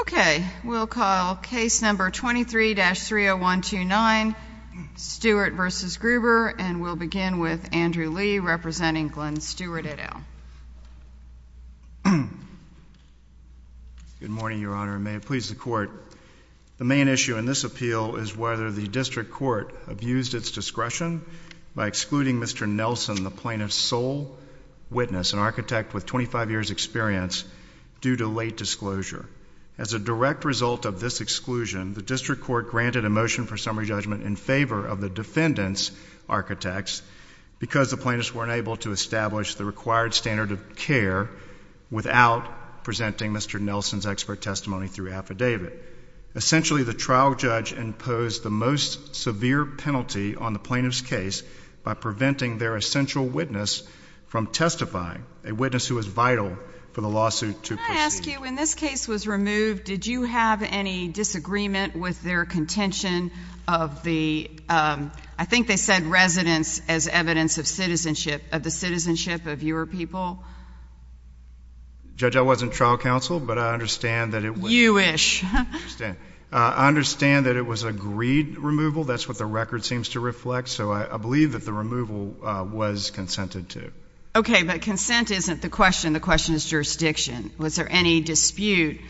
Okay, we'll call case number 23-30129, Stewart v. Gruber, and we'll begin with Andrew Lee representing Glenn Stewart et al. Good morning, Your Honor, and may it please the Court. The main issue in this appeal is whether the District Court abused its discretion by excluding Mr. Nelson, the plaintiff's sole witness, an architect with 25 years' experience, due to late disclosure. As a direct result of this exclusion, the District Court granted a motion for summary judgment in favor of the defendant's architects because the plaintiffs weren't able to establish the required standard of care without presenting Mr. Nelson's expert testimony through affidavit. Essentially, the trial judge imposed the most severe penalty on the plaintiff's case by preventing their essential witness from testifying, a witness who was vital for the lawsuit to proceed. Can I ask you, when this case was removed, did you have any disagreement with their contention of the, I think they said residents, as evidence of citizenship, of the citizenship of your people? Judge, I wasn't trial counsel, but I understand that it was. You wish. I understand. I understand that it was agreed removal. That's what the record seems to reflect. So I believe that the removal was consented to. Okay. But consent isn't the question. The question is jurisdiction. Was there any dispute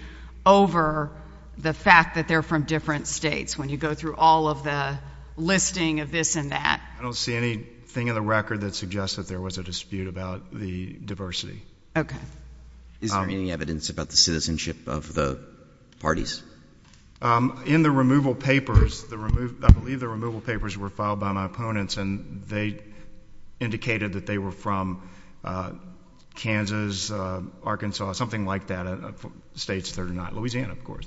over the fact that they're from different states when you go through all of the listing of this and that? I don't see anything in the record that suggests that there was a dispute about the diversity. Okay. Is there any evidence about the citizenship of the parties? In the removal papers, I believe the removal papers were filed by my opponents, and they indicated that they were from Kansas, Arkansas, something like that, states that are not. Louisiana, of course.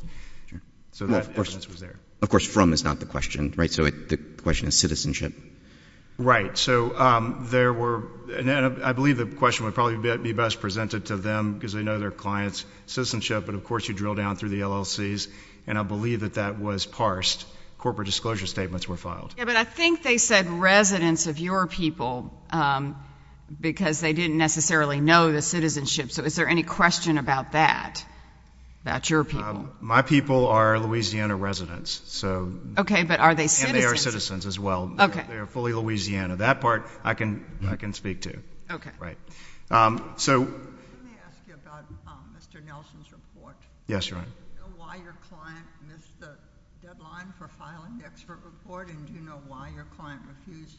Sure. So that evidence was there. Of course, from is not the question. Right? So the question is citizenship. Right. So there were, and I believe the question would probably be best presented to them because they know their client's citizenship, but of course you drill down through the LLCs, and I believe that that was parsed. Corporate disclosure statements were filed. Yeah, but I think they said residents of your people because they didn't necessarily know the citizenship. So is there any question about that, about your people? My people are Louisiana residents. Okay. But are they citizens? And they are citizens as well. Okay. So they are fully Louisiana. That part, I can speak to. Okay. Right. Let me ask you about Mr. Nelson's report. Yes, Your Honor. Do you know why your client missed the deadline for filing the expert report? And do you know why your client refused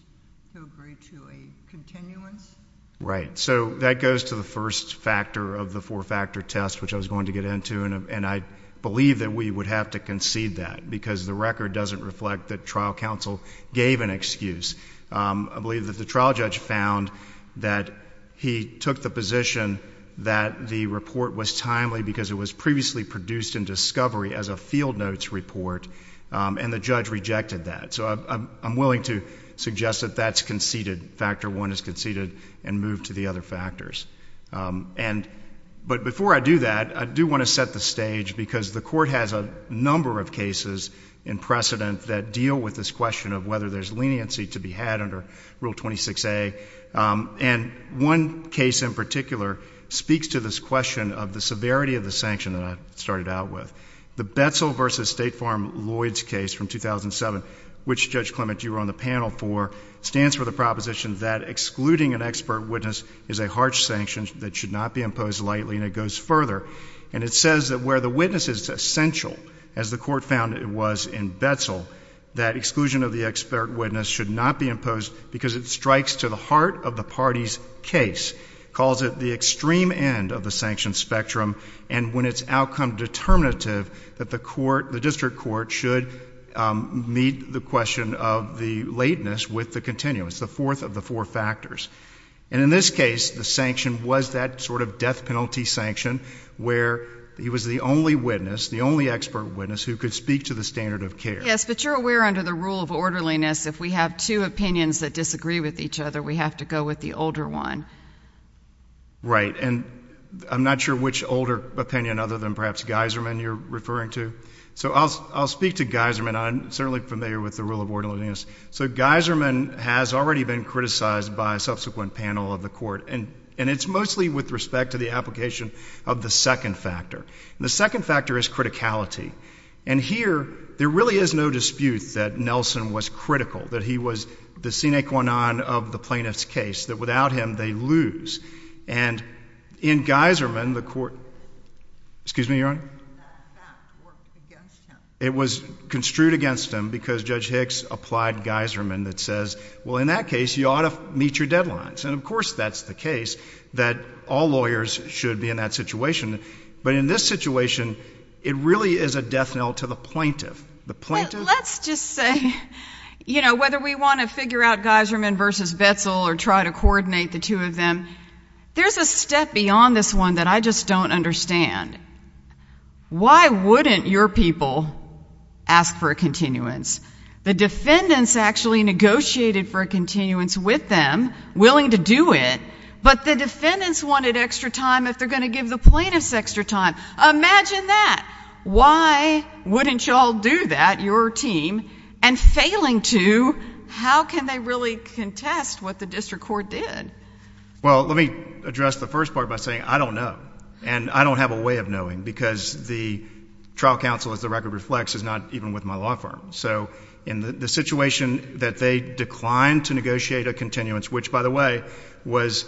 to agree to a continuance? Right. So that goes to the first factor of the four-factor test, which I was going to get into, and I believe that we would have to concede that because the record doesn't reflect that trial counsel gave an excuse. I believe that the trial judge found that he took the position that the report was timely because it was previously produced in discovery as a field notes report, and the judge rejected that. So I'm willing to suggest that that's conceded, factor one is conceded and moved to the other factors. But before I do that, I do want to set the stage because the court has a number of cases in precedent that deal with this question of whether there's leniency to be had under Rule 26A, and one case in particular speaks to this question of the severity of the sanction that I started out with. The Betzel v. State Farm Lloyds case from 2007, which, Judge Clement, you were on the panel for, stands for the proposition that excluding an expert witness is a harsh sanction that should not be imposed lightly, and it goes further, and it says that where the witness is essential, as the court found it was in Betzel, that exclusion of the expert witness should not be imposed because it strikes to the heart of the party's case, calls it the extreme end of the sanction spectrum, and when it's outcome determinative, that the district court should meet the question of the lateness with the continuance, the fourth of the four factors. And in this case, the sanction was that sort of death penalty sanction where he was the only witness, the only expert witness who could speak to the standard of care. Yes, but you're aware under the rule of orderliness, if we have two opinions that disagree with each other, we have to go with the older one. Right, and I'm not sure which older opinion other than perhaps Geiserman you're referring to. So I'll speak to Geiserman, I'm certainly familiar with the rule of orderliness. So Geiserman has already been criticized by a subsequent panel of the court, and it's mostly with respect to the application of the second factor. And the second factor is criticality. And here, there really is no dispute that Nelson was critical, that he was the sine qua non of the plaintiff's case, that without him, they lose. And in Geiserman, the court, excuse me, Your Honor? It was construed against him because Judge Hicks applied Geiserman that says, well, in that case, you ought to meet your deadlines. And of course, that's the case, that all lawyers should be in that situation. But in this situation, it really is a death knell to the plaintiff. The plaintiff? Let's just say, you know, whether we want to figure out Geiserman versus Betzel or try to coordinate the two of them, there's a step beyond this one that I just don't understand. Why wouldn't your people ask for a continuance? The defendants actually negotiated for a continuance with them, willing to do it, but the defendants wanted extra time if they're going to give the plaintiffs extra time. Imagine that. Why wouldn't you all do that, your team? And failing to, how can they really contest what the district court did? Well, let me address the first part by saying, I don't know. And I don't have a way of knowing because the trial counsel, as the record reflects, is not even with my law firm. So in the situation that they declined to negotiate a continuance, which, by the way, was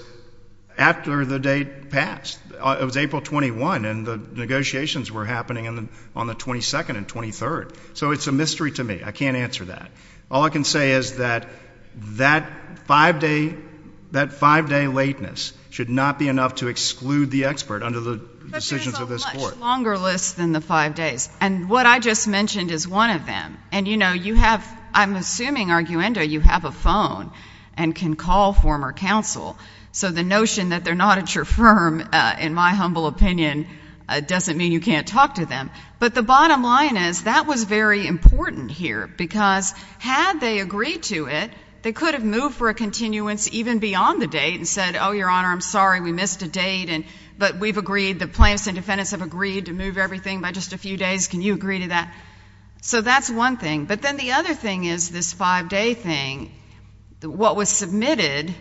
after the date passed. It was April 21, and the negotiations were happening on the 22nd and 23rd. So it's a mystery to me. I can't answer that. All I can say is that that five-day lateness should not be enough to exclude the expert under the decisions of this court. But there's a much longer list than the five days. And what I just mentioned is one of them. And, you know, you have, I'm assuming, arguendo, you have a phone and can call former counsel. So the notion that they're not at your firm, in my humble opinion, doesn't mean you can't talk to them. But the bottom line is, that was very important here. Because had they agreed to it, they could have moved for a continuance even beyond the date and said, oh, your Honor, I'm sorry, we missed a date, but we've agreed, the plaintiffs and defendants have agreed to move everything by just a few days. Can you agree to that? So that's one thing. But then the other thing is this five-day thing. What was submitted,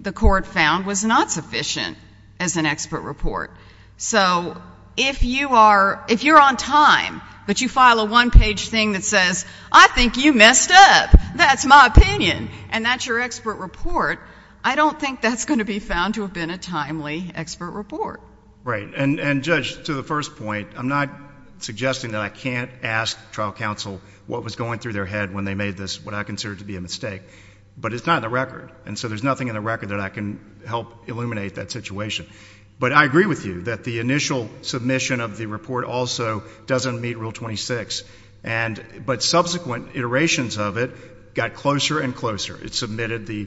the court found, was not sufficient as an expert report. So if you are, if you're on time, but you file a one-page thing that says, I think you messed up, that's my opinion, and that's your expert report, I don't think that's going to be found to have been a timely expert report. Right. And Judge, to the first point, I'm not suggesting that I can't ask trial counsel what was going through their head when they made this, what I consider to be a mistake. But it's not in the record. And so there's nothing in the record that I can help illuminate that situation. But I agree with you that the initial submission of the report also doesn't meet Rule 26. But subsequent iterations of it got closer and closer. It submitted the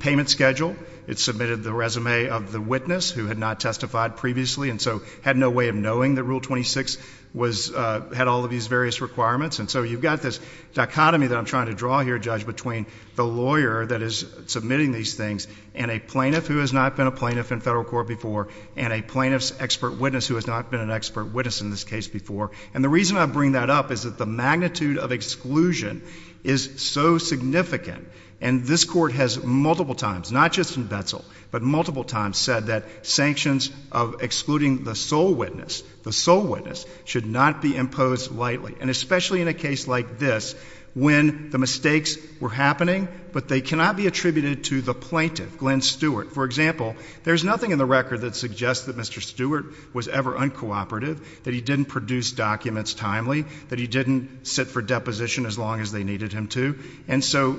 payment schedule. It submitted the resume of the witness who had not testified previously and so had no way of knowing that Rule 26 was, had all of these various requirements. And so you've got this dichotomy that I'm trying to draw here, Judge, between the lawyer that is submitting these things and a plaintiff who has not been a plaintiff in federal court before and a plaintiff's expert witness who has not been an expert witness in this case before. And the reason I bring that up is that the magnitude of exclusion is so significant. And this Court has multiple times, not just in Betzel, but multiple times said that sanctions of excluding the sole witness, the sole witness, should not be imposed lightly. And especially in a case like this when the mistakes were happening but they cannot be attributed to the plaintiff, Glenn Stewart. For example, there's nothing in the record that suggests that Mr. Stewart was ever uncooperative, that he didn't produce documents timely, that he didn't sit for deposition as long as they needed him to. And so,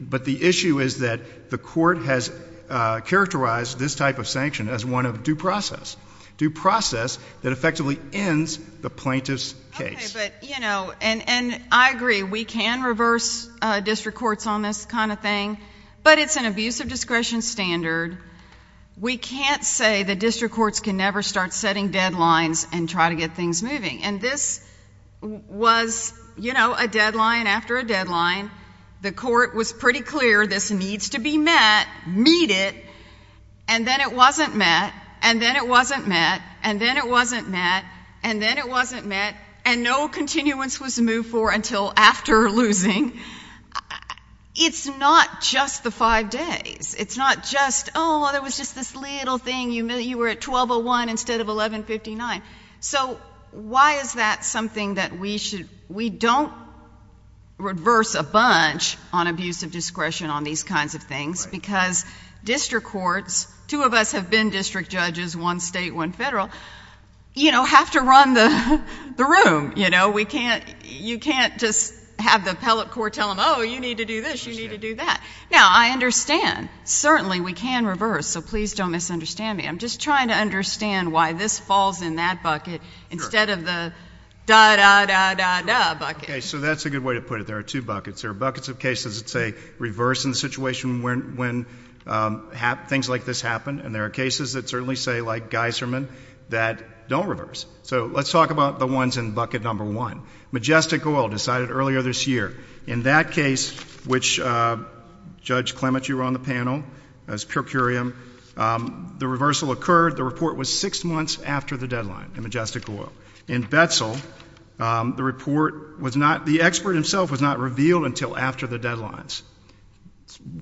but the issue is that the Court has characterized this type of sanction as one of due process, due process that effectively ends the plaintiff's case. Okay, but you know, and I agree, we can reverse district courts on this kind of thing. But it's an abuse of discretion standard. We can't say that district courts can never start setting deadlines and try to get things moving. And this was, you know, a deadline after a deadline. The Court was pretty clear this needs to be met, meet it, and then it wasn't met, and then it wasn't met, and then it wasn't met, and then it wasn't met, and no continuance was moved for until after losing. It's not just the five days. It's not just, oh, there was just this little thing, you were at 1201 instead of 1159. So why is that something that we should, we don't reverse a bunch on abuse of discretion on these kinds of things because district courts, two of us have been district judges, one state, one federal, you know, have to run the room, you know. We can't, you can't just have the appellate court tell them, oh, you need to do this, you need to do that. Now, I understand, certainly we can reverse, so please don't misunderstand me. I'm just trying to understand why this falls in that bucket instead of the da, da, da, da, da bucket. Okay. So that's a good way to put it. There are two buckets. There are buckets of cases that say reverse in the situation when things like this happen, and there are cases that certainly say, like Geisserman, that don't reverse. So let's talk about the ones in bucket number one. Majestic Oil decided earlier this year, in that case, which Judge Clement, you were on the panel, as per curiam, the reversal occurred. The report was six months after the deadline in Majestic Oil. In Betzel, the report was not, the expert himself was not revealed until after the deadlines.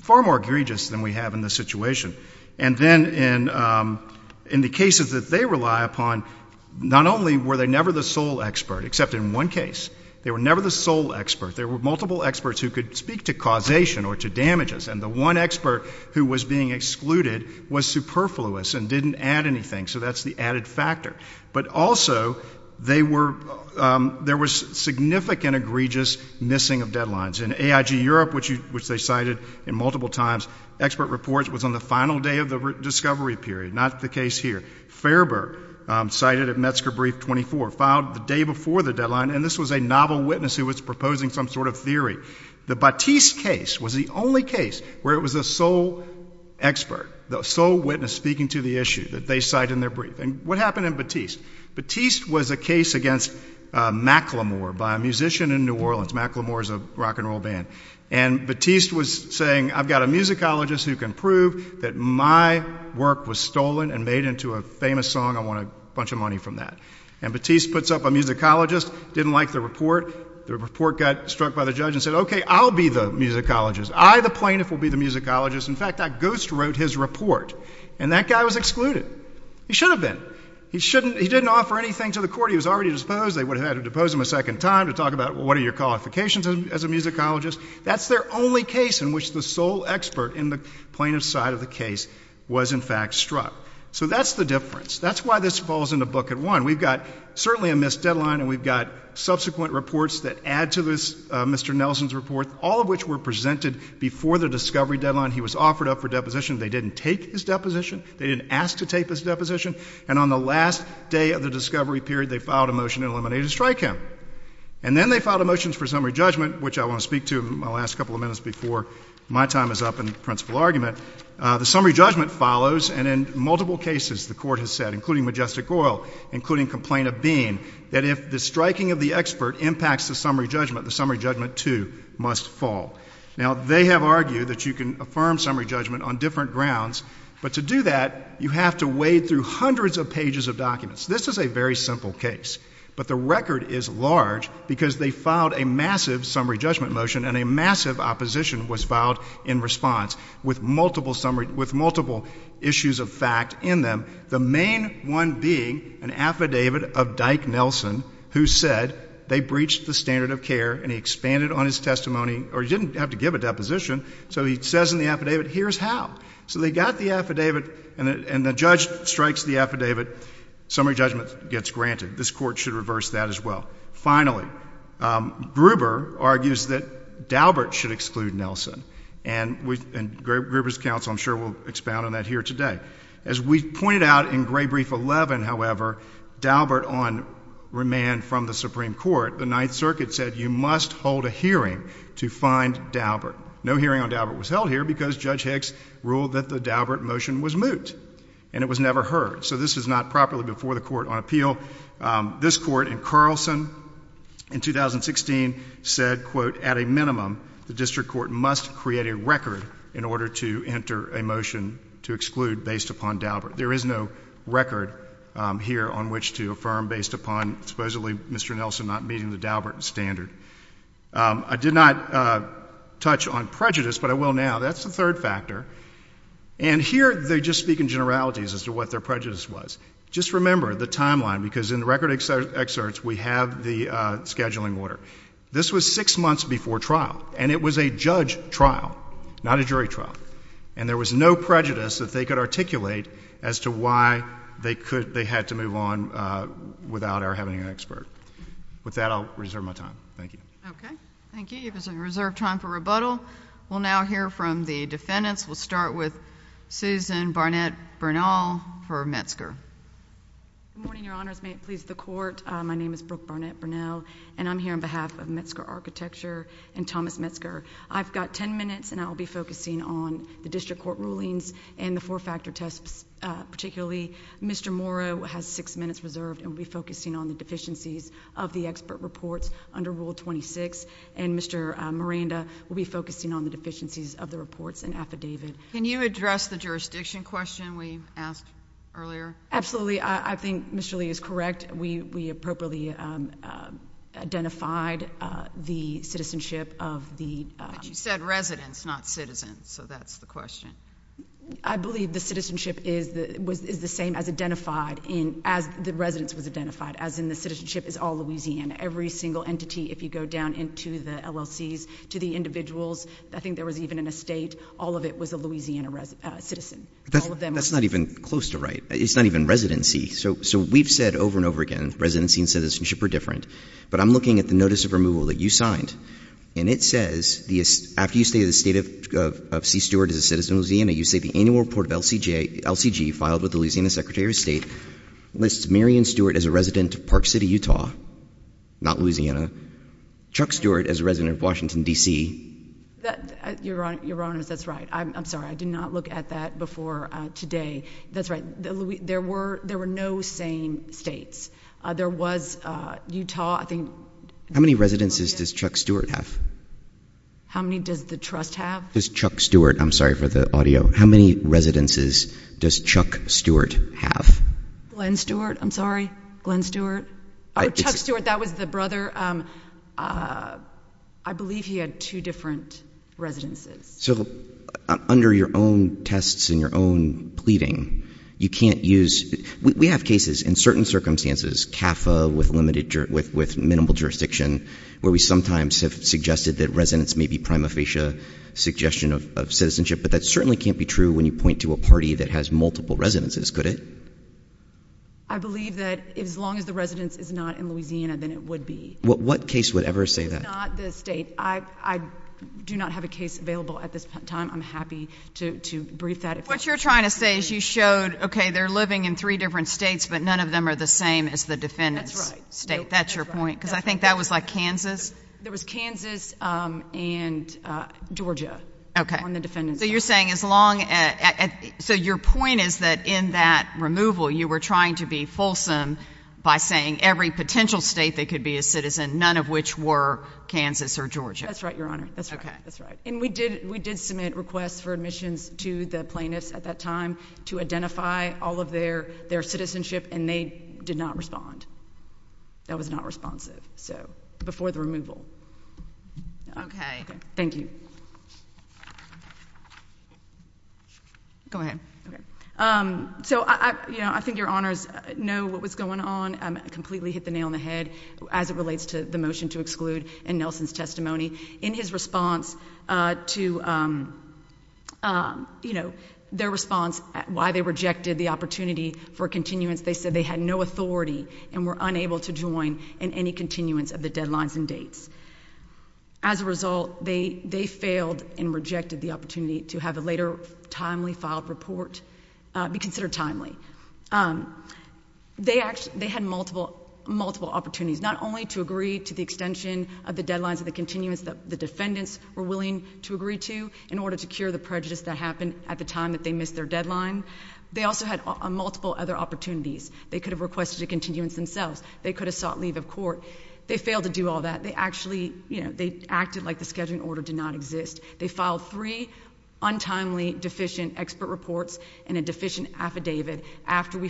Far more egregious than we have in this situation. And then in, in the cases that they rely upon, not only were they never the sole expert, except in one case, they were never the sole expert. There were multiple experts who could speak to causation or to damages, and the one expert who was being excluded was superfluous and didn't add anything. So that's the added factor. But also, they were, there was significant egregious missing of deadlines. In AIG Europe, which you, which they cited in multiple times, expert reports was on the final day of the discovery period, not the case here. Farber, cited at Metzger brief 24, filed the day before the deadline, and this was a novel witness who was proposing some sort of theory. The Batiste case was the only case where it was the sole expert, the sole witness speaking to the issue that they cite in their brief. And what happened in Batiste? Batiste was a case against Macklemore by a musician in New Orleans. Macklemore is a rock and roll band. And Batiste was saying, I've got a musicologist who can prove that my work was stolen and made into a famous song, I want a bunch of money from that. And Batiste puts up a musicologist, didn't like the report, the report got struck by the judge and said, okay, I'll be the musicologist. I, the plaintiff, will be the musicologist. In fact, that ghost wrote his report. And that guy was excluded. He should have been. He shouldn't, he didn't offer anything to the court. He was already disposed. They would have had to depose him a second time to talk about what are your qualifications as a musicologist. That's their only case in which the sole expert in the plaintiff's side of the case was in fact struck. So that's the difference. That's why this falls into bucket one. We've got certainly a missed deadline, and we've got subsequent reports that add to this Mr. Nelson's report, all of which were presented before the discovery deadline. He was offered up for deposition. They didn't take his deposition. They didn't ask to take his deposition. And on the last day of the discovery period, they filed a motion to eliminate and strike him. And then they filed a motion for summary judgment, which I want to speak to in the last couple of minutes before my time is up in the principal argument. The summary judgment follows, and in multiple cases, the court has said, including Majestic Oil, including Complaint of Bean, that if the striking of the expert impacts the summary judgment, the summary judgment, too, must fall. Now, they have argued that you can affirm summary judgment on different grounds, but to do that, you have to wade through hundreds of pages of documents. This is a very simple case, but the record is large because they filed a massive summary judgment motion, and a massive opposition was filed in response with multiple issues of fact in them, the main one being an affidavit of Dyke Nelson who said they breached the standard of care, and he expanded on his testimony, or he didn't have to give a deposition, so he says in the affidavit, here's how. So they got the affidavit, and the judge strikes the affidavit, summary judgment gets granted. This court should reverse that as well. Finally, Gruber argues that Daubert should exclude Nelson, and Gruber's counsel, I'm sure, will expound on that here today. As we pointed out in Gray Brief 11, however, Daubert on remand from the Supreme Court, the Ninth Circuit said you must hold a hearing to find Daubert. No hearing on Daubert was held here because Judge Hicks ruled that the Daubert motion was moot, and it was never heard, so this is not properly before the Court on Appeal. This Court in Carlson in 2016 said, quote, at a minimum, the district court must create a record in order to enter a motion to exclude based upon Daubert. There is no record here on which to affirm based upon, supposedly, Mr. Nelson not meeting the Daubert standard. I did not touch on prejudice, but I will now. That's the third factor. And here, they just speak in generalities as to what their prejudice was. Just remember the timeline, because in the record excerpts, we have the scheduling order. This was six months before trial, and it was a judge trial, not a jury trial. And there was no prejudice that they could articulate as to why they had to move on without our having an expert. With that, I'll reserve my time. Thank you. Okay. Thank you. You have some reserved time for rebuttal. We'll now hear from the defendants. We'll start with Susan Barnett-Burnall for Metzger. Good morning, Your Honors. May it please the Court. My name is Brooke Barnett-Burnall, and I'm here on behalf of Metzger Architecture and Thomas Metzger. I've got ten minutes, and I'll be focusing on the district court rulings and the four-factor tests particularly. Mr. Morrow has six minutes reserved and will be focusing on the deficiencies of the expert reports under Rule 26, and Mr. Miranda will be focusing on the deficiencies of the reports and affidavit. Can you address the jurisdiction question we asked earlier? Absolutely. I think Mr. Lee is correct. That we appropriately identified the citizenship of the— But you said residents, not citizens, so that's the question. I believe the citizenship is the same as identified in—as the residence was identified, as in the citizenship is all Louisiana. Every single entity, if you go down into the LLCs to the individuals, I think there was even an estate, all of it was a Louisiana citizen. That's not even close to right. It's not even residency. So we've said over and over again, residency and citizenship are different, but I'm looking at the notice of removal that you signed, and it says, after you say the estate of C. Stewart is a citizen of Louisiana, you say the annual report of LCG filed with the Louisiana Secretary of State lists Marion Stewart as a resident of Park City, Utah, not Louisiana, Chuck Stewart as a resident of Washington, D.C. Your Honor, that's right. I'm sorry. I did not look at that before today. That's right. There were—there were no same states. There was Utah. I think— How many residences does Chuck Stewart have? How many does the trust have? Does Chuck Stewart—I'm sorry for the audio. How many residences does Chuck Stewart have? Glenn Stewart. I'm sorry. Glenn Stewart. Oh, Chuck Stewart. That was the brother. I believe he had two different residences. So, under your own tests and your own pleading, you can't use—we have cases in certain circumstances, CAFA with minimal jurisdiction, where we sometimes have suggested that residents may be prima facie suggestion of citizenship, but that certainly can't be true when you point to a party that has multiple residences, could it? I believe that as long as the residence is not in Louisiana, then it would be. What case would ever say that? It's not the state. I do not have a case available at this time. I'm happy to brief that. What you're trying to say is you showed, okay, they're living in three different states, but none of them are the same as the defendant's state. That's your point? Because I think that was like Kansas. There was Kansas and Georgia on the defendant's side. Okay. So, you're saying as long as—so, your point is that in that removal, you were trying to be fulsome by saying every potential state that could be a citizen, none of which were Georgia? That's right, Your Honor. That's right. Okay. And we did submit requests for admissions to the plaintiffs at that time to identify all of their citizenship, and they did not respond. That was not responsive. So, before the removal. Okay. Okay. Thank you. Go ahead. Okay. So, you know, I think Your Honors know what was going on. I completely hit the nail on the head as it relates to the motion to exclude and Nelson's testimony. In his response to, you know, their response at why they rejected the opportunity for continuance, they said they had no authority and were unable to join in any continuance of the deadlines and dates. As a result, they failed and rejected the opportunity to have a later timely filed report be considered timely. They had multiple opportunities, not only to agree to the extension of the deadlines and the continuance that the defendants were willing to agree to in order to cure the prejudice that happened at the time that they missed their deadline. They also had multiple other opportunities. They could have requested a continuance themselves. They could have sought leave of court. They failed to do all that. They actually, you know, they acted like the scheduling order did not exist. They filed three untimely deficient expert reports and a deficient affidavit after we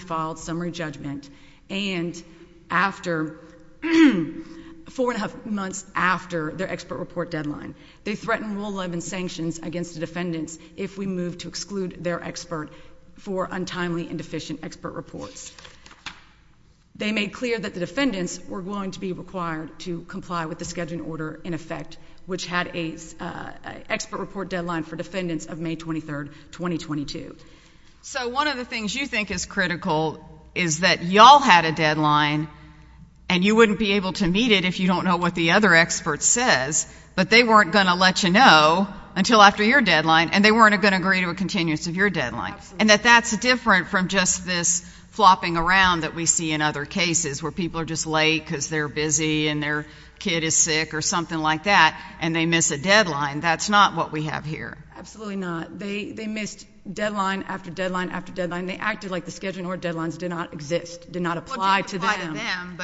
deadline. They threatened rule 11 sanctions against the defendants if we moved to exclude their expert for untimely and deficient expert reports. They made clear that the defendants were going to be required to comply with the scheduling order in effect, which had an expert report deadline for defendants of May 23, 2022. So one of the things you think is critical is that y'all had a deadline and you wouldn't be able to meet it if you don't know what the other expert says, but they weren't going to let you know until after your deadline, and they weren't going to agree to a continuance of your deadline, and that that's different from just this flopping around that we see in other cases where people are just late because they're busy and their kid is sick or something like that, and they miss a deadline. That's not what we have here. Absolutely not. They missed deadline after deadline after deadline. They acted like the scheduling order deadlines did not exist, did not apply to them.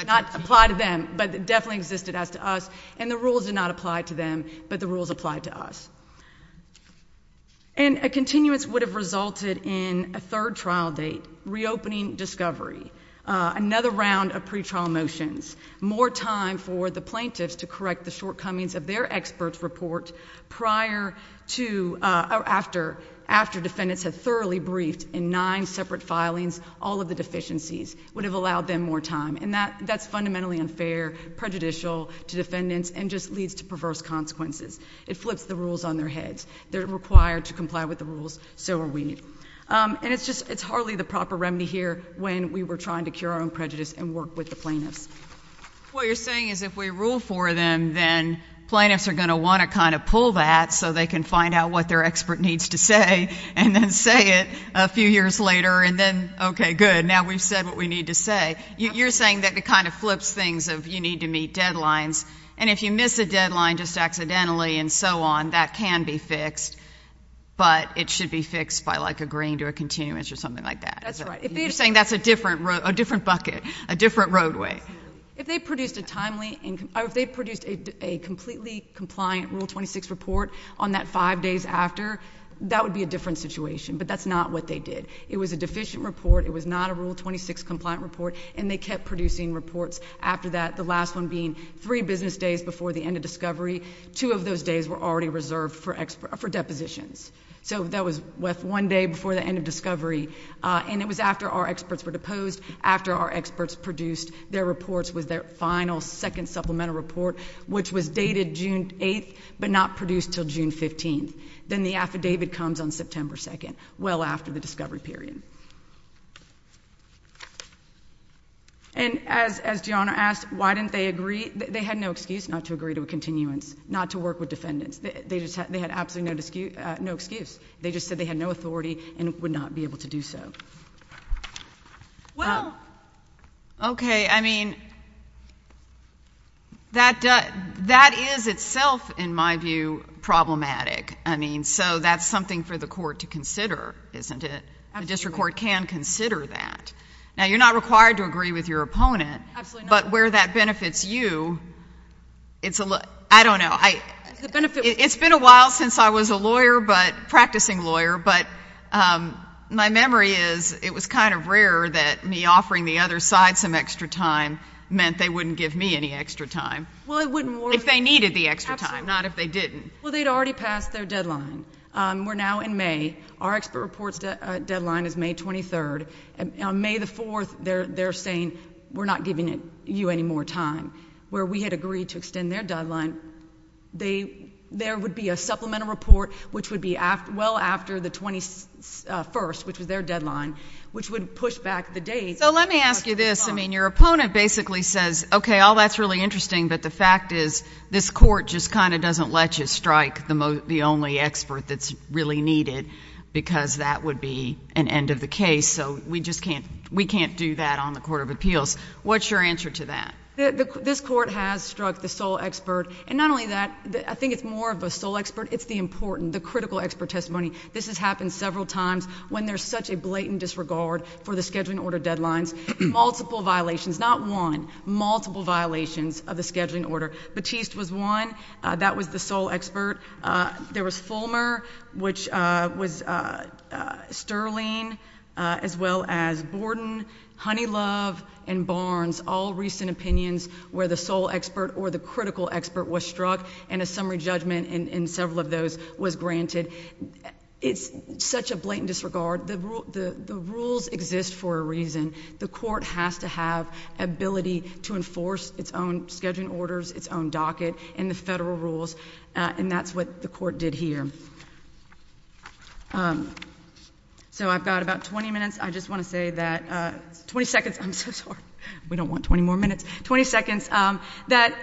Not apply to them, but definitely existed as to us, and the rules did not apply to them, but the rules applied to us. And a continuance would have resulted in a third trial date, reopening discovery, another round of pretrial motions, more time for the plaintiffs to correct the shortcomings of their expert report prior to or after defendants had thoroughly briefed in nine separate filings, all of the deficiencies, would have allowed them more time, and that's fundamentally unfair, prejudicial to defendants, and just leads to perverse consequences. It flips the rules on their heads. They're required to comply with the rules. So are we. And it's just, it's hardly the proper remedy here when we were trying to cure our own prejudice and work with the plaintiffs. What you're saying is if we rule for them, then plaintiffs are going to want to kind of pull that so they can find out what their expert needs to say and then say it a few years later, and then, okay, good, now we've said what we need to say. You're saying that it kind of flips things of you need to meet deadlines, and if you miss a deadline just accidentally and so on, that can be fixed, but it should be fixed by like agreeing to a continuance or something like that. That's right. You're saying that's a different bucket, a different roadway. If they produced a completely compliant Rule 26 report on that five days after, that would be a different situation, but that's not what they did. It was a deficient report. It was not a Rule 26 compliant report, and they kept producing reports after that, the last one being three business days before the end of discovery. Two of those days were already reserved for depositions. So that was one day before the end of discovery, and it was after our experts were deposed, after our experts produced their reports with their final second supplemental report, which was dated June 8th, but not produced until June 15th. Then the affidavit comes on September 2nd, well after the discovery period. And as Gianna asked, why didn't they agree? They had no excuse not to agree to a continuance, not to work with defendants. They just had absolutely no excuse. They just said they had no authority and would not be able to do so. Well, okay, I mean, that is itself, in my view, problematic. I mean, so that's something for the court to consider, isn't it? Absolutely. The district court can consider that. Now, you're not required to agree with your opponent. Absolutely not. But where that benefits you, it's a little — I don't know. The benefit — It was kind of rare that me offering the other side some extra time meant they wouldn't give me any extra time. Well, it wouldn't work — If they needed the extra time, not if they didn't. Well, they'd already passed their deadline. We're now in May. Our expert report's deadline is May 23rd. On May 4th, they're saying, we're not giving you any more time. Where we had agreed to extend their deadline, there would be a supplemental report, which would be well after the 21st, which was their deadline, which would push back the date. So let me ask you this. I mean, your opponent basically says, okay, all that's really interesting, but the fact is this court just kind of doesn't let you strike the only expert that's really needed because that would be an end of the case. So we just can't — we can't do that on the Court of Appeals. What's your answer to that? This court has struck the sole expert. And not only that, I think it's more of a sole expert. It's the important, the critical expert testimony. This has happened several times when there's such a blatant disregard for the scheduling order deadlines. Multiple violations, not one, multiple violations of the scheduling order. Batiste was one. That was the sole expert. There was Fulmer, which was Sterling, as well as Borden, Honeylove, and Barnes, all recent opinions where the sole expert or the critical expert was struck, and a summary judgment in several of those was granted. It's such a blatant disregard. The rules exist for a reason. The court has to have ability to enforce its own scheduling orders, its own docket, and the federal rules. And that's what the court did here. So I've got about 20 minutes. I just want to say that — 20 seconds. I'm so sorry. We don't want 20 more minutes. 20 seconds. That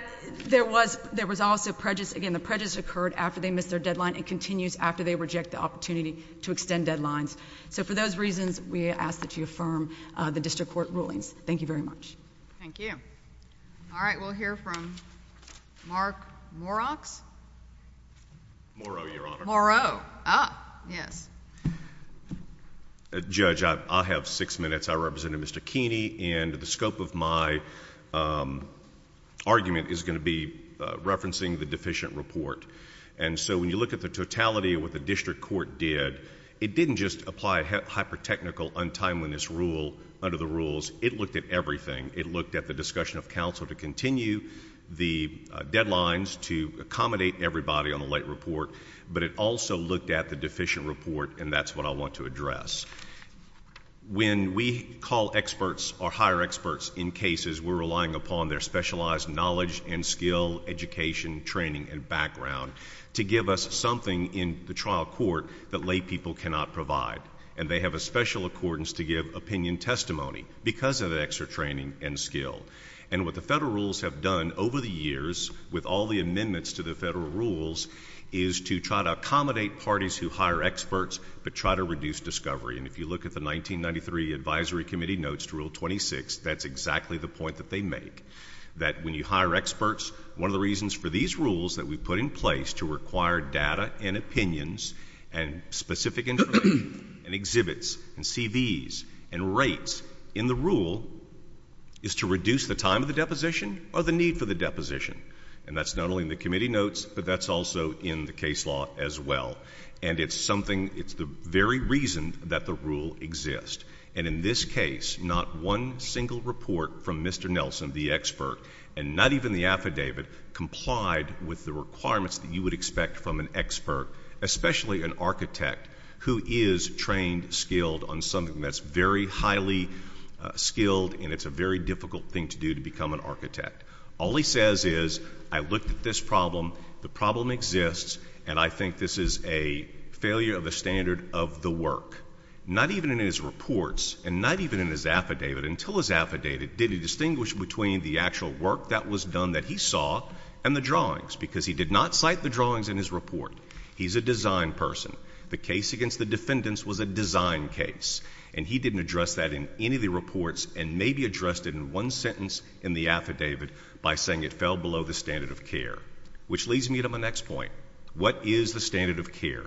there was also prejudice. Again, the prejudice occurred after they missed their deadline and continues after they reject the opportunity to extend deadlines. So for those reasons, we ask that you affirm the district court rulings. Thank you very much. Thank you. All right. We'll hear from Mark Morox. Moreau, Your Honor. Moreau. Ah, yes. Judge, I have six minutes. I represent Mr. Keeney, and the scope of my argument is going to be referencing the deficient report. And so when you look at the totality of what the district court did, it didn't just apply hyper-technical, untimeliness rule under the rules. It looked at everything. It looked at the discussion of counsel to continue the deadlines to accommodate everybody on the late report, but it also looked at the deficient report, and that's what I want to address. When we call experts or hire experts in cases, we're relying upon their specialized knowledge and skill, education, training, and background to give us something in the trial court that lay people cannot provide. And they have a special accordance to give opinion testimony because of that extra training and skill. And what the federal rules have done over the years with all the amendments to the federal rules is to try to accommodate parties who hire experts but try to reduce discovery. And if you look at the 1993 Advisory Committee notes to Rule 26, that's exactly the point that they make, that when you hire experts, one of the reasons for these rules that we put in place to require data and opinions and specific information and exhibits and CVs and rates in the rule is to reduce the time of the deposition or the need for the deposition. And that's not only in the committee notes, but that's also in the case law as well. And it's something, it's the very reason that the rule exists. And in this case, not one single report from Mr. Nelson, the expert, and not even the affidavit, complied with the requirements that you would expect from an expert, especially an architect who is trained, skilled on something that's very highly skilled and it's a very difficult thing to do to become an architect. All he says is, I looked at this problem, the problem exists, and I think this is a failure of the standard of the work. Not even in his reports and not even in his affidavit, until his affidavit, did he distinguish between the actual work that was done that he saw and the drawings because he did not cite the drawings in his report. He's a design person. The case against the defendants was a design case, and he didn't address that in any of the reports and maybe addressed it in one sentence in the affidavit by saying it fell below the standard of care, which leads me to my next point. What is the standard of care?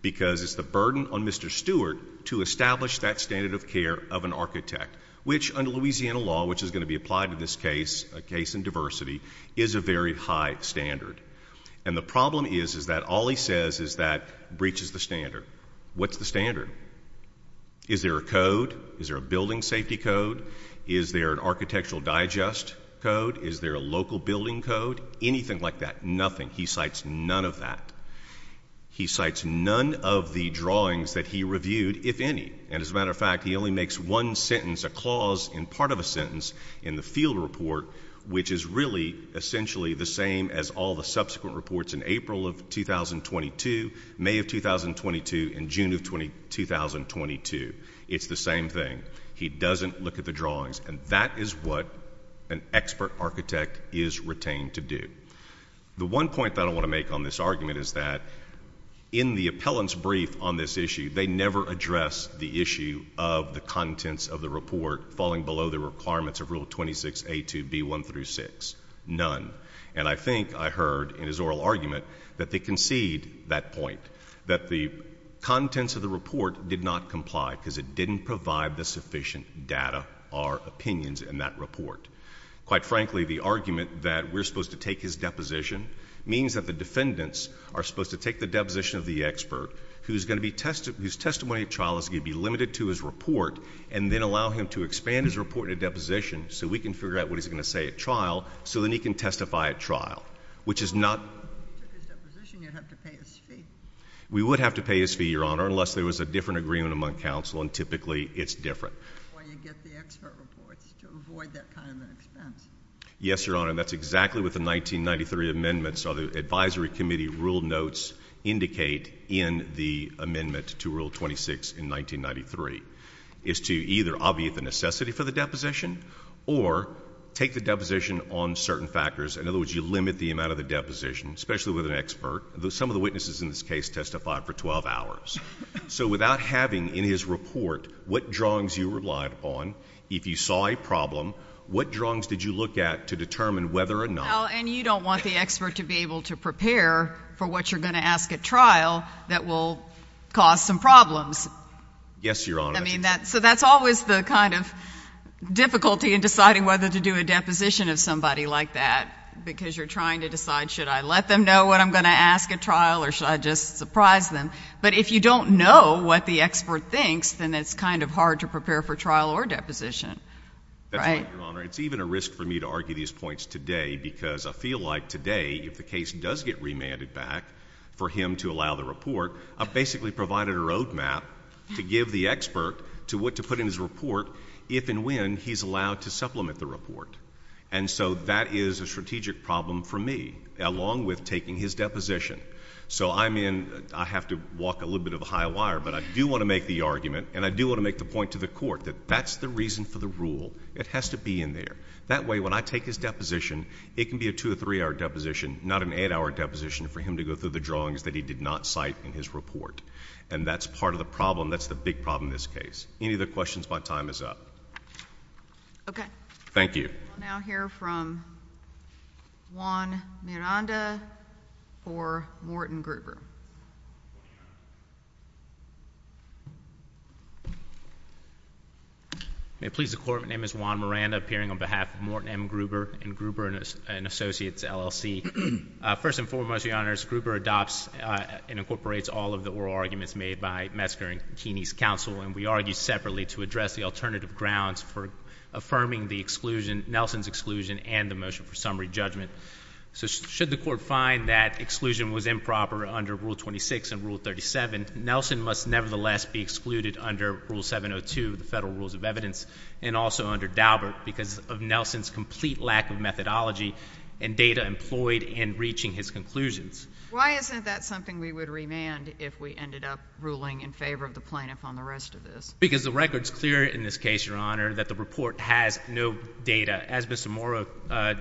Because it's the burden on Mr. Stewart to establish that standard of care of an architect, which under Louisiana law, which is going to be applied to this case, a case in diversity, is a very high standard. And the problem is that all he says is that breaches the standard. What's the standard? Is there a code? Is there a building safety code? Is there an architectural digest code? Is there a local building code? Anything like that. Nothing. He cites none of that. He cites none of the drawings that he reviewed, if any. And as a matter of fact, he only makes one sentence, a clause in part of a sentence, in the field report, which is really essentially the same as all the subsequent reports in April of 2022, May of 2022, and June of 2022. It's the same thing. He doesn't look at the drawings, and that is what an expert architect is retained to do. The one point that I want to make on this argument is that in the appellant's brief on this issue, they never address the issue of the contents of the report falling below the requirements of Rule 26A2B1-6. None. And I think I heard in his oral argument that they concede that point, that the contents of the report did not comply because it didn't provide the sufficient data or opinions in that report. Quite frankly, the argument that we're supposed to take his deposition means that the defendants are supposed to take the deposition of the expert, whose testimony at trial is going to be limited to his report, and then allow him to expand his report at deposition so we can figure out what he's going to say at trial, so then he can testify at trial, which is not... We would have to pay his fee, Your Honor, unless there was a different agreement among counsel, and typically it's different. Yes, Your Honor. That's exactly what the 1993 amendments of the Advisory Committee rule notes indicate in the amendment to Rule 26 in 1993. It's to either obviate the necessity for the deposition or take the deposition on certain factors. In other words, you limit the amount of the deposition, especially with an expert. Some of the witnesses in this case testified for 12 hours. So without having in his report what drawings you relied upon, if you saw a problem, what drawings did you look at to determine whether or not... And you don't want the expert to be able to prepare for what you're going to ask at trial that will cause some problems. Yes, Your Honor. So that's always the kind of difficulty in deciding whether to do a deposition of somebody like that, because you're trying to decide, should I let them know what I'm going to ask at trial, or should I just surprise them? But if you don't know what the expert thinks, then it's kind of hard to prepare for trial or deposition. That's right, Your Honor. It's even a risk for me to argue these points today, because I feel like today, if the case does get remanded back for him to allow the report, I've basically provided a road map to give the expert to what to put in his report, if and when he's allowed to supplement the report. And so that is a strategic problem for me, along with taking his deposition. So I'm in... I have to walk a little bit of a high wire, but I do want to make the argument, and I do want to make the point to the Court that that's the reason for the rule. It has to be in there. That way, when I take his deposition, it can be a 2- or 3-hour deposition, not an 8-hour deposition for him to go through the drawings that he did not cite in his report. And that's part of the problem. That's the big problem in this case. Any other questions? My time is up. Okay. Thank you. We'll now hear from Juan Miranda for Morton Gruber. May it please the Court, my name is Juan Miranda, appearing on behalf of Morton M. Gruber and Gruber & Associates, LLC. First and foremost, Your Honors, Gruber adopts and incorporates all of the oral arguments made by Metzger and Keeney's counsel, and we argue separately to address the alternative grounds for affirming the exclusion, Nelson's exclusion, and the motion for summary judgment. So should the Court find that exclusion was improper under Rule 26 and Rule 37, Nelson must nevertheless be excluded under Rule 702, the Federal Rules of Evidence, and also under Daubert because of Nelson's complete lack of methodology and data employed in reaching his conclusions. Why isn't that something we would remand if we ended up ruling in favor of the plaintiff on the rest of this? Because the record is clear in this case, Your Honor, that the report has no data. As Mr. Morrow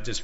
just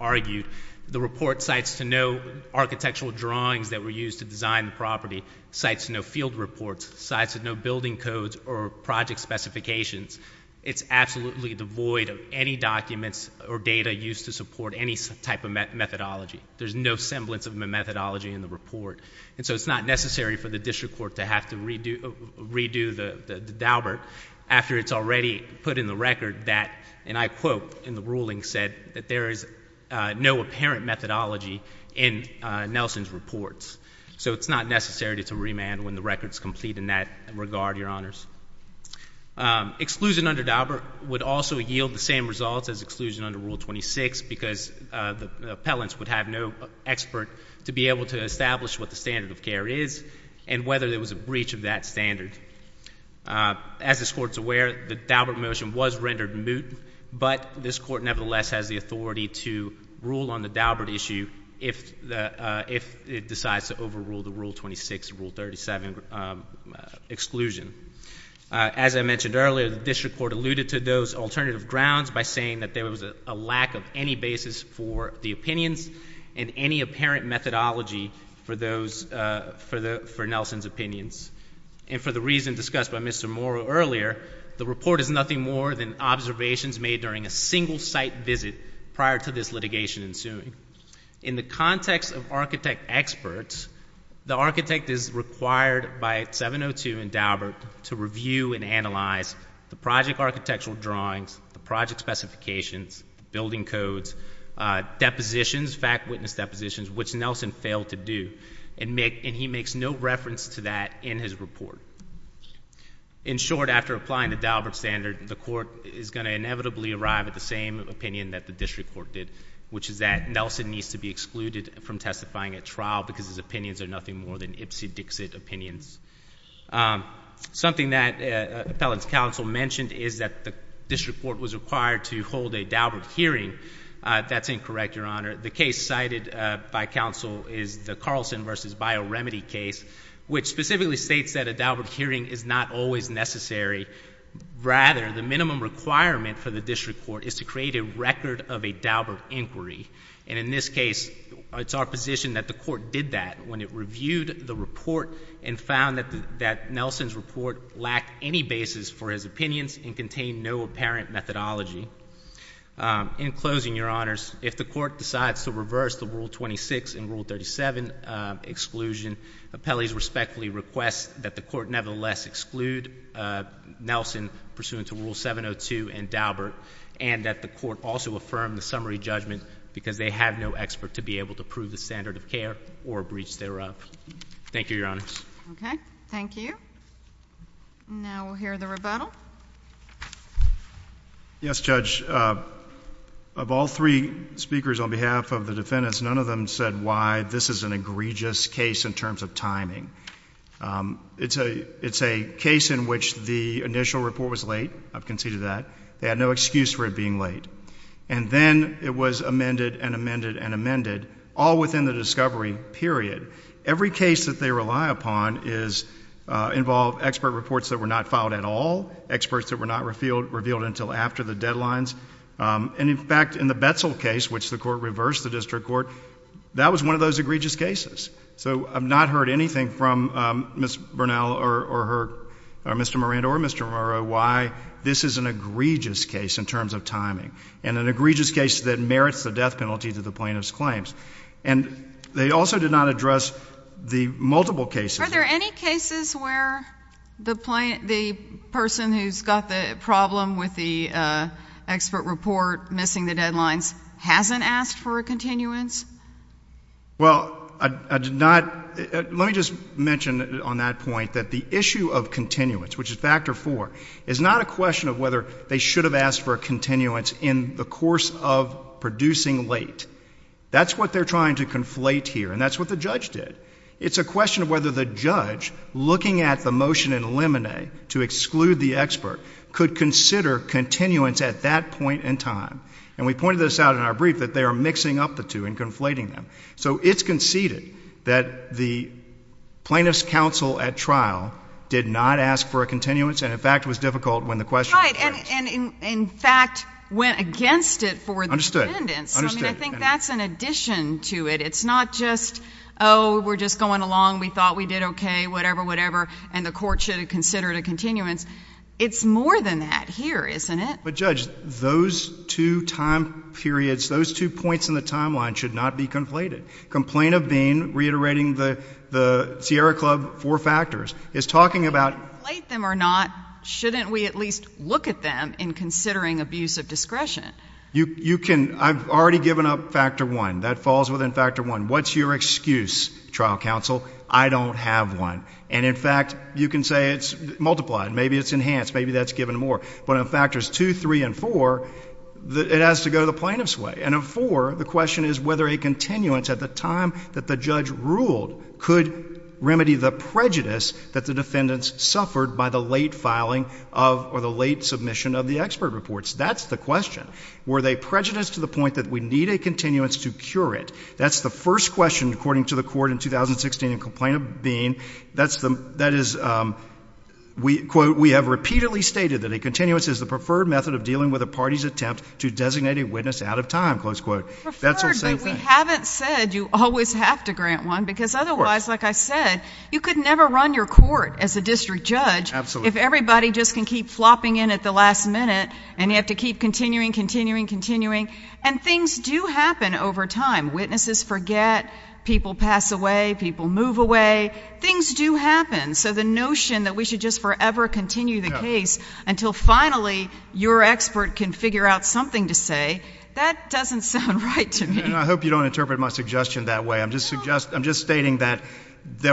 argued, the report cites to no architectural drawings that were used to design the property, cites to no field reports, cites to no building codes or project specifications. It's absolutely devoid of any documents or data used to support any type of methodology. There's no semblance of methodology in the report. And so it's not necessary for the district court to have to redo the Daubert after it's already put in the record that, and I quote in the ruling said, that there is no apparent methodology in Nelson's reports. So it's not necessary to remand when the record's complete in that regard, Your Honors. Exclusion under Daubert would also yield the same results as exclusion under Rule 26 because the appellants would have no expert to be able to establish what the standard of care is and whether there was a breach of that standard. As this Court's aware, the Daubert motion was rendered moot, but this Court nevertheless has the authority to rule on the Daubert issue if it decides to overrule the Rule 26, Rule 37 exclusion. As I mentioned earlier, the district court alluded to those alternative grounds by saying that there was a lack of any basis for the opinions and any apparent methodology for Nelson's opinions. And for the reason discussed by Mr. Mora earlier, the report is nothing more than observations made during a single site visit prior to this litigation ensuing. In the context of architect experts, the architect is required by 702 and Daubert to review and analyze the project architectural drawings, the project specifications, building codes, depositions, fact witness depositions, which Nelson failed to do. And he makes no reference to that in his report. In short, after applying the Daubert standard, the Court is going to inevitably arrive at the same opinion that the district court did, which is that Nelson needs to be excluded from testifying at trial because his opinions are nothing more than ipsy-dixit opinions. Something that appellants' counsel mentioned is that the district court was required to hold a Daubert hearing. That's incorrect, Your Honor. The case cited by counsel is the Carlson v. Bioremedy case, which specifically states that a Daubert hearing is not always necessary. Rather, the minimum requirement for the district court is to create a record of a Daubert inquiry. And in this case, it's our position that the Court did that when it reviewed the report and found that Nelson's report lacked any basis for his opinions and contained no apparent methodology. In closing, Your Honors, if the Court decides to reverse the Rule 26 and Rule 37 exclusion, appellees respectfully request that the Court nevertheless exclude Nelson pursuant to Rule 702 and Daubert and that the Court also affirm the summary judgment because they have no expert to be able to prove the standard of care or breach thereof. Thank you, Your Honors. Okay. Thank you. Now we'll hear the rebuttal. Yes, Judge, of all three speakers on behalf of the defendants, none of them said why this is an egregious case in terms of timing. It's a case in which the initial report was late. I've conceded that. They had no excuse for it being late. And then it was amended and amended and amended, all within the discovery period. Every case that they rely upon involves expert reports that were not filed at all, experts that were not revealed until after the deadlines. And, in fact, in the Betzel case, which the Court reversed, the district court, that was one of those egregious cases. So I've not heard anything from Ms. Bernal or Mr. Moran or Mr. Morrow why this is an egregious case in terms of timing and an egregious case that merits the death penalty to the plaintiff's claims. And they also did not address the multiple cases. Are there any cases where the person who's got the problem with the expert report missing the deadlines hasn't asked for a continuance? Well, I did not. Let me just mention on that point that the issue of continuance, which is factor four, is not a question of whether they should have asked for a continuance in the course of producing late. That's what they're trying to conflate here, and that's what the judge did. It's a question of whether the judge, looking at the motion in limine to exclude the expert, could consider continuance at that point in time. And we pointed this out in our brief that they are mixing up the two and conflating them. So it's conceded that the plaintiff's counsel at trial did not ask for a continuance and, in fact, was difficult when the question was raised. Right. And, in fact, went against it for the defendants. So, I mean, I think that's an addition to it. It's not just, oh, we're just going along, we thought we did okay, whatever, whatever, and the court should have considered a continuance. It's more than that here, isn't it? But, Judge, those two time periods, those two points in the timeline should not be conflated. Complaint of being, reiterating the Sierra Club four factors, is talking about — Whether we conflate them or not, shouldn't we at least look at them in considering abuse of discretion? You can. I've already given up factor one. That falls within factor one. What's your excuse, trial counsel? I don't have one. And, in fact, you can say it's multiplied. Maybe it's enhanced. Maybe that's given more. But on factors two, three, and four, it has to go to the plaintiff's way. And on four, the question is whether a continuance at the time that the judge ruled could remedy the prejudice that the defendants suffered by the late filing of or the late submission of the expert reports. That's the question. Were they prejudiced to the point that we need a continuance to cure it? That's the first question, according to the court in 2016 in complaint of being. That is, quote, we have repeatedly stated that a continuance is the preferred method of dealing with a party's attempt to designate a witness out of time, close quote. Preferred, but we haven't said you always have to grant one because otherwise, like I said, you could never run your court as a district judge if everybody just can keep flopping in at the last minute and you have to keep continuing, continuing, continuing. And things do happen over time. Witnesses forget. People pass away. People move away. Things do happen. So the notion that we should just forever continue the case until finally your expert can figure out something to say, that doesn't sound right to me. I hope you don't interpret my suggestion that way. I'm just stating that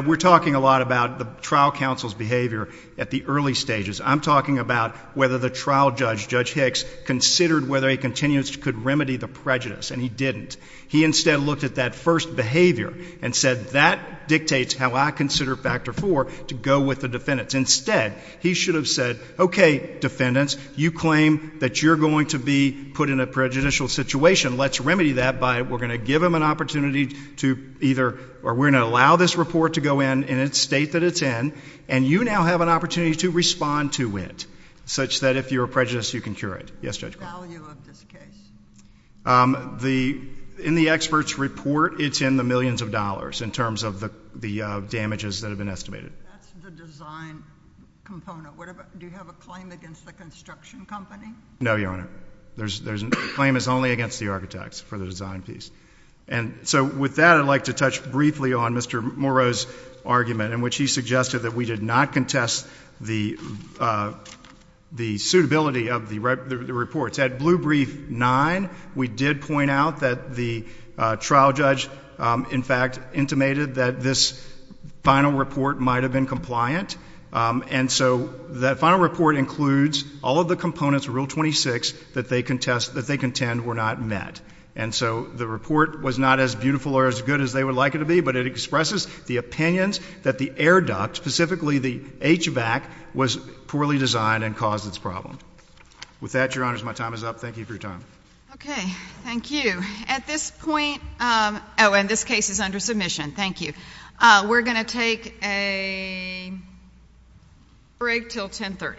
we're talking a lot about the trial counsel's behavior at the early stages. I'm talking about whether the trial judge, Judge Hicks, considered whether a continuance could remedy the prejudice, and he didn't. He instead looked at that first behavior and said that dictates how I consider factor four to go with the defendants. Instead, he should have said, okay, defendants, you claim that you're going to be put in a prejudicial situation. Let's remedy that by we're going to give them an opportunity to either or we're going to allow this report to go in in the state that it's in, and you now have an opportunity to respond to it such that if you're a prejudice, you can cure it. Yes, Judge? The value of this case? In the expert's report, it's in the millions of dollars in terms of the damages that have been estimated. That's the design component. Do you have a claim against the construction company? No, Your Honor. The claim is only against the architects for the design piece. And so with that, I'd like to touch briefly on Mr. Morrow's argument in which he suggested that we did not contest the suitability of the reports. At Blue Brief 9, we did point out that the trial judge, in fact, intimated that this final report might have been compliant, and so that final report includes all of the components of Rule 26 that they contend were not met. And so the report was not as beautiful or as good as they would like it to be, but it expresses the opinions that the air duct, specifically the HVAC, was poorly designed and caused its problem. With that, Your Honors, my time is up. Thank you for your time. Okay. Thank you. At this point, oh, and this case is under submission. Thank you. We're going to take a break until 1030.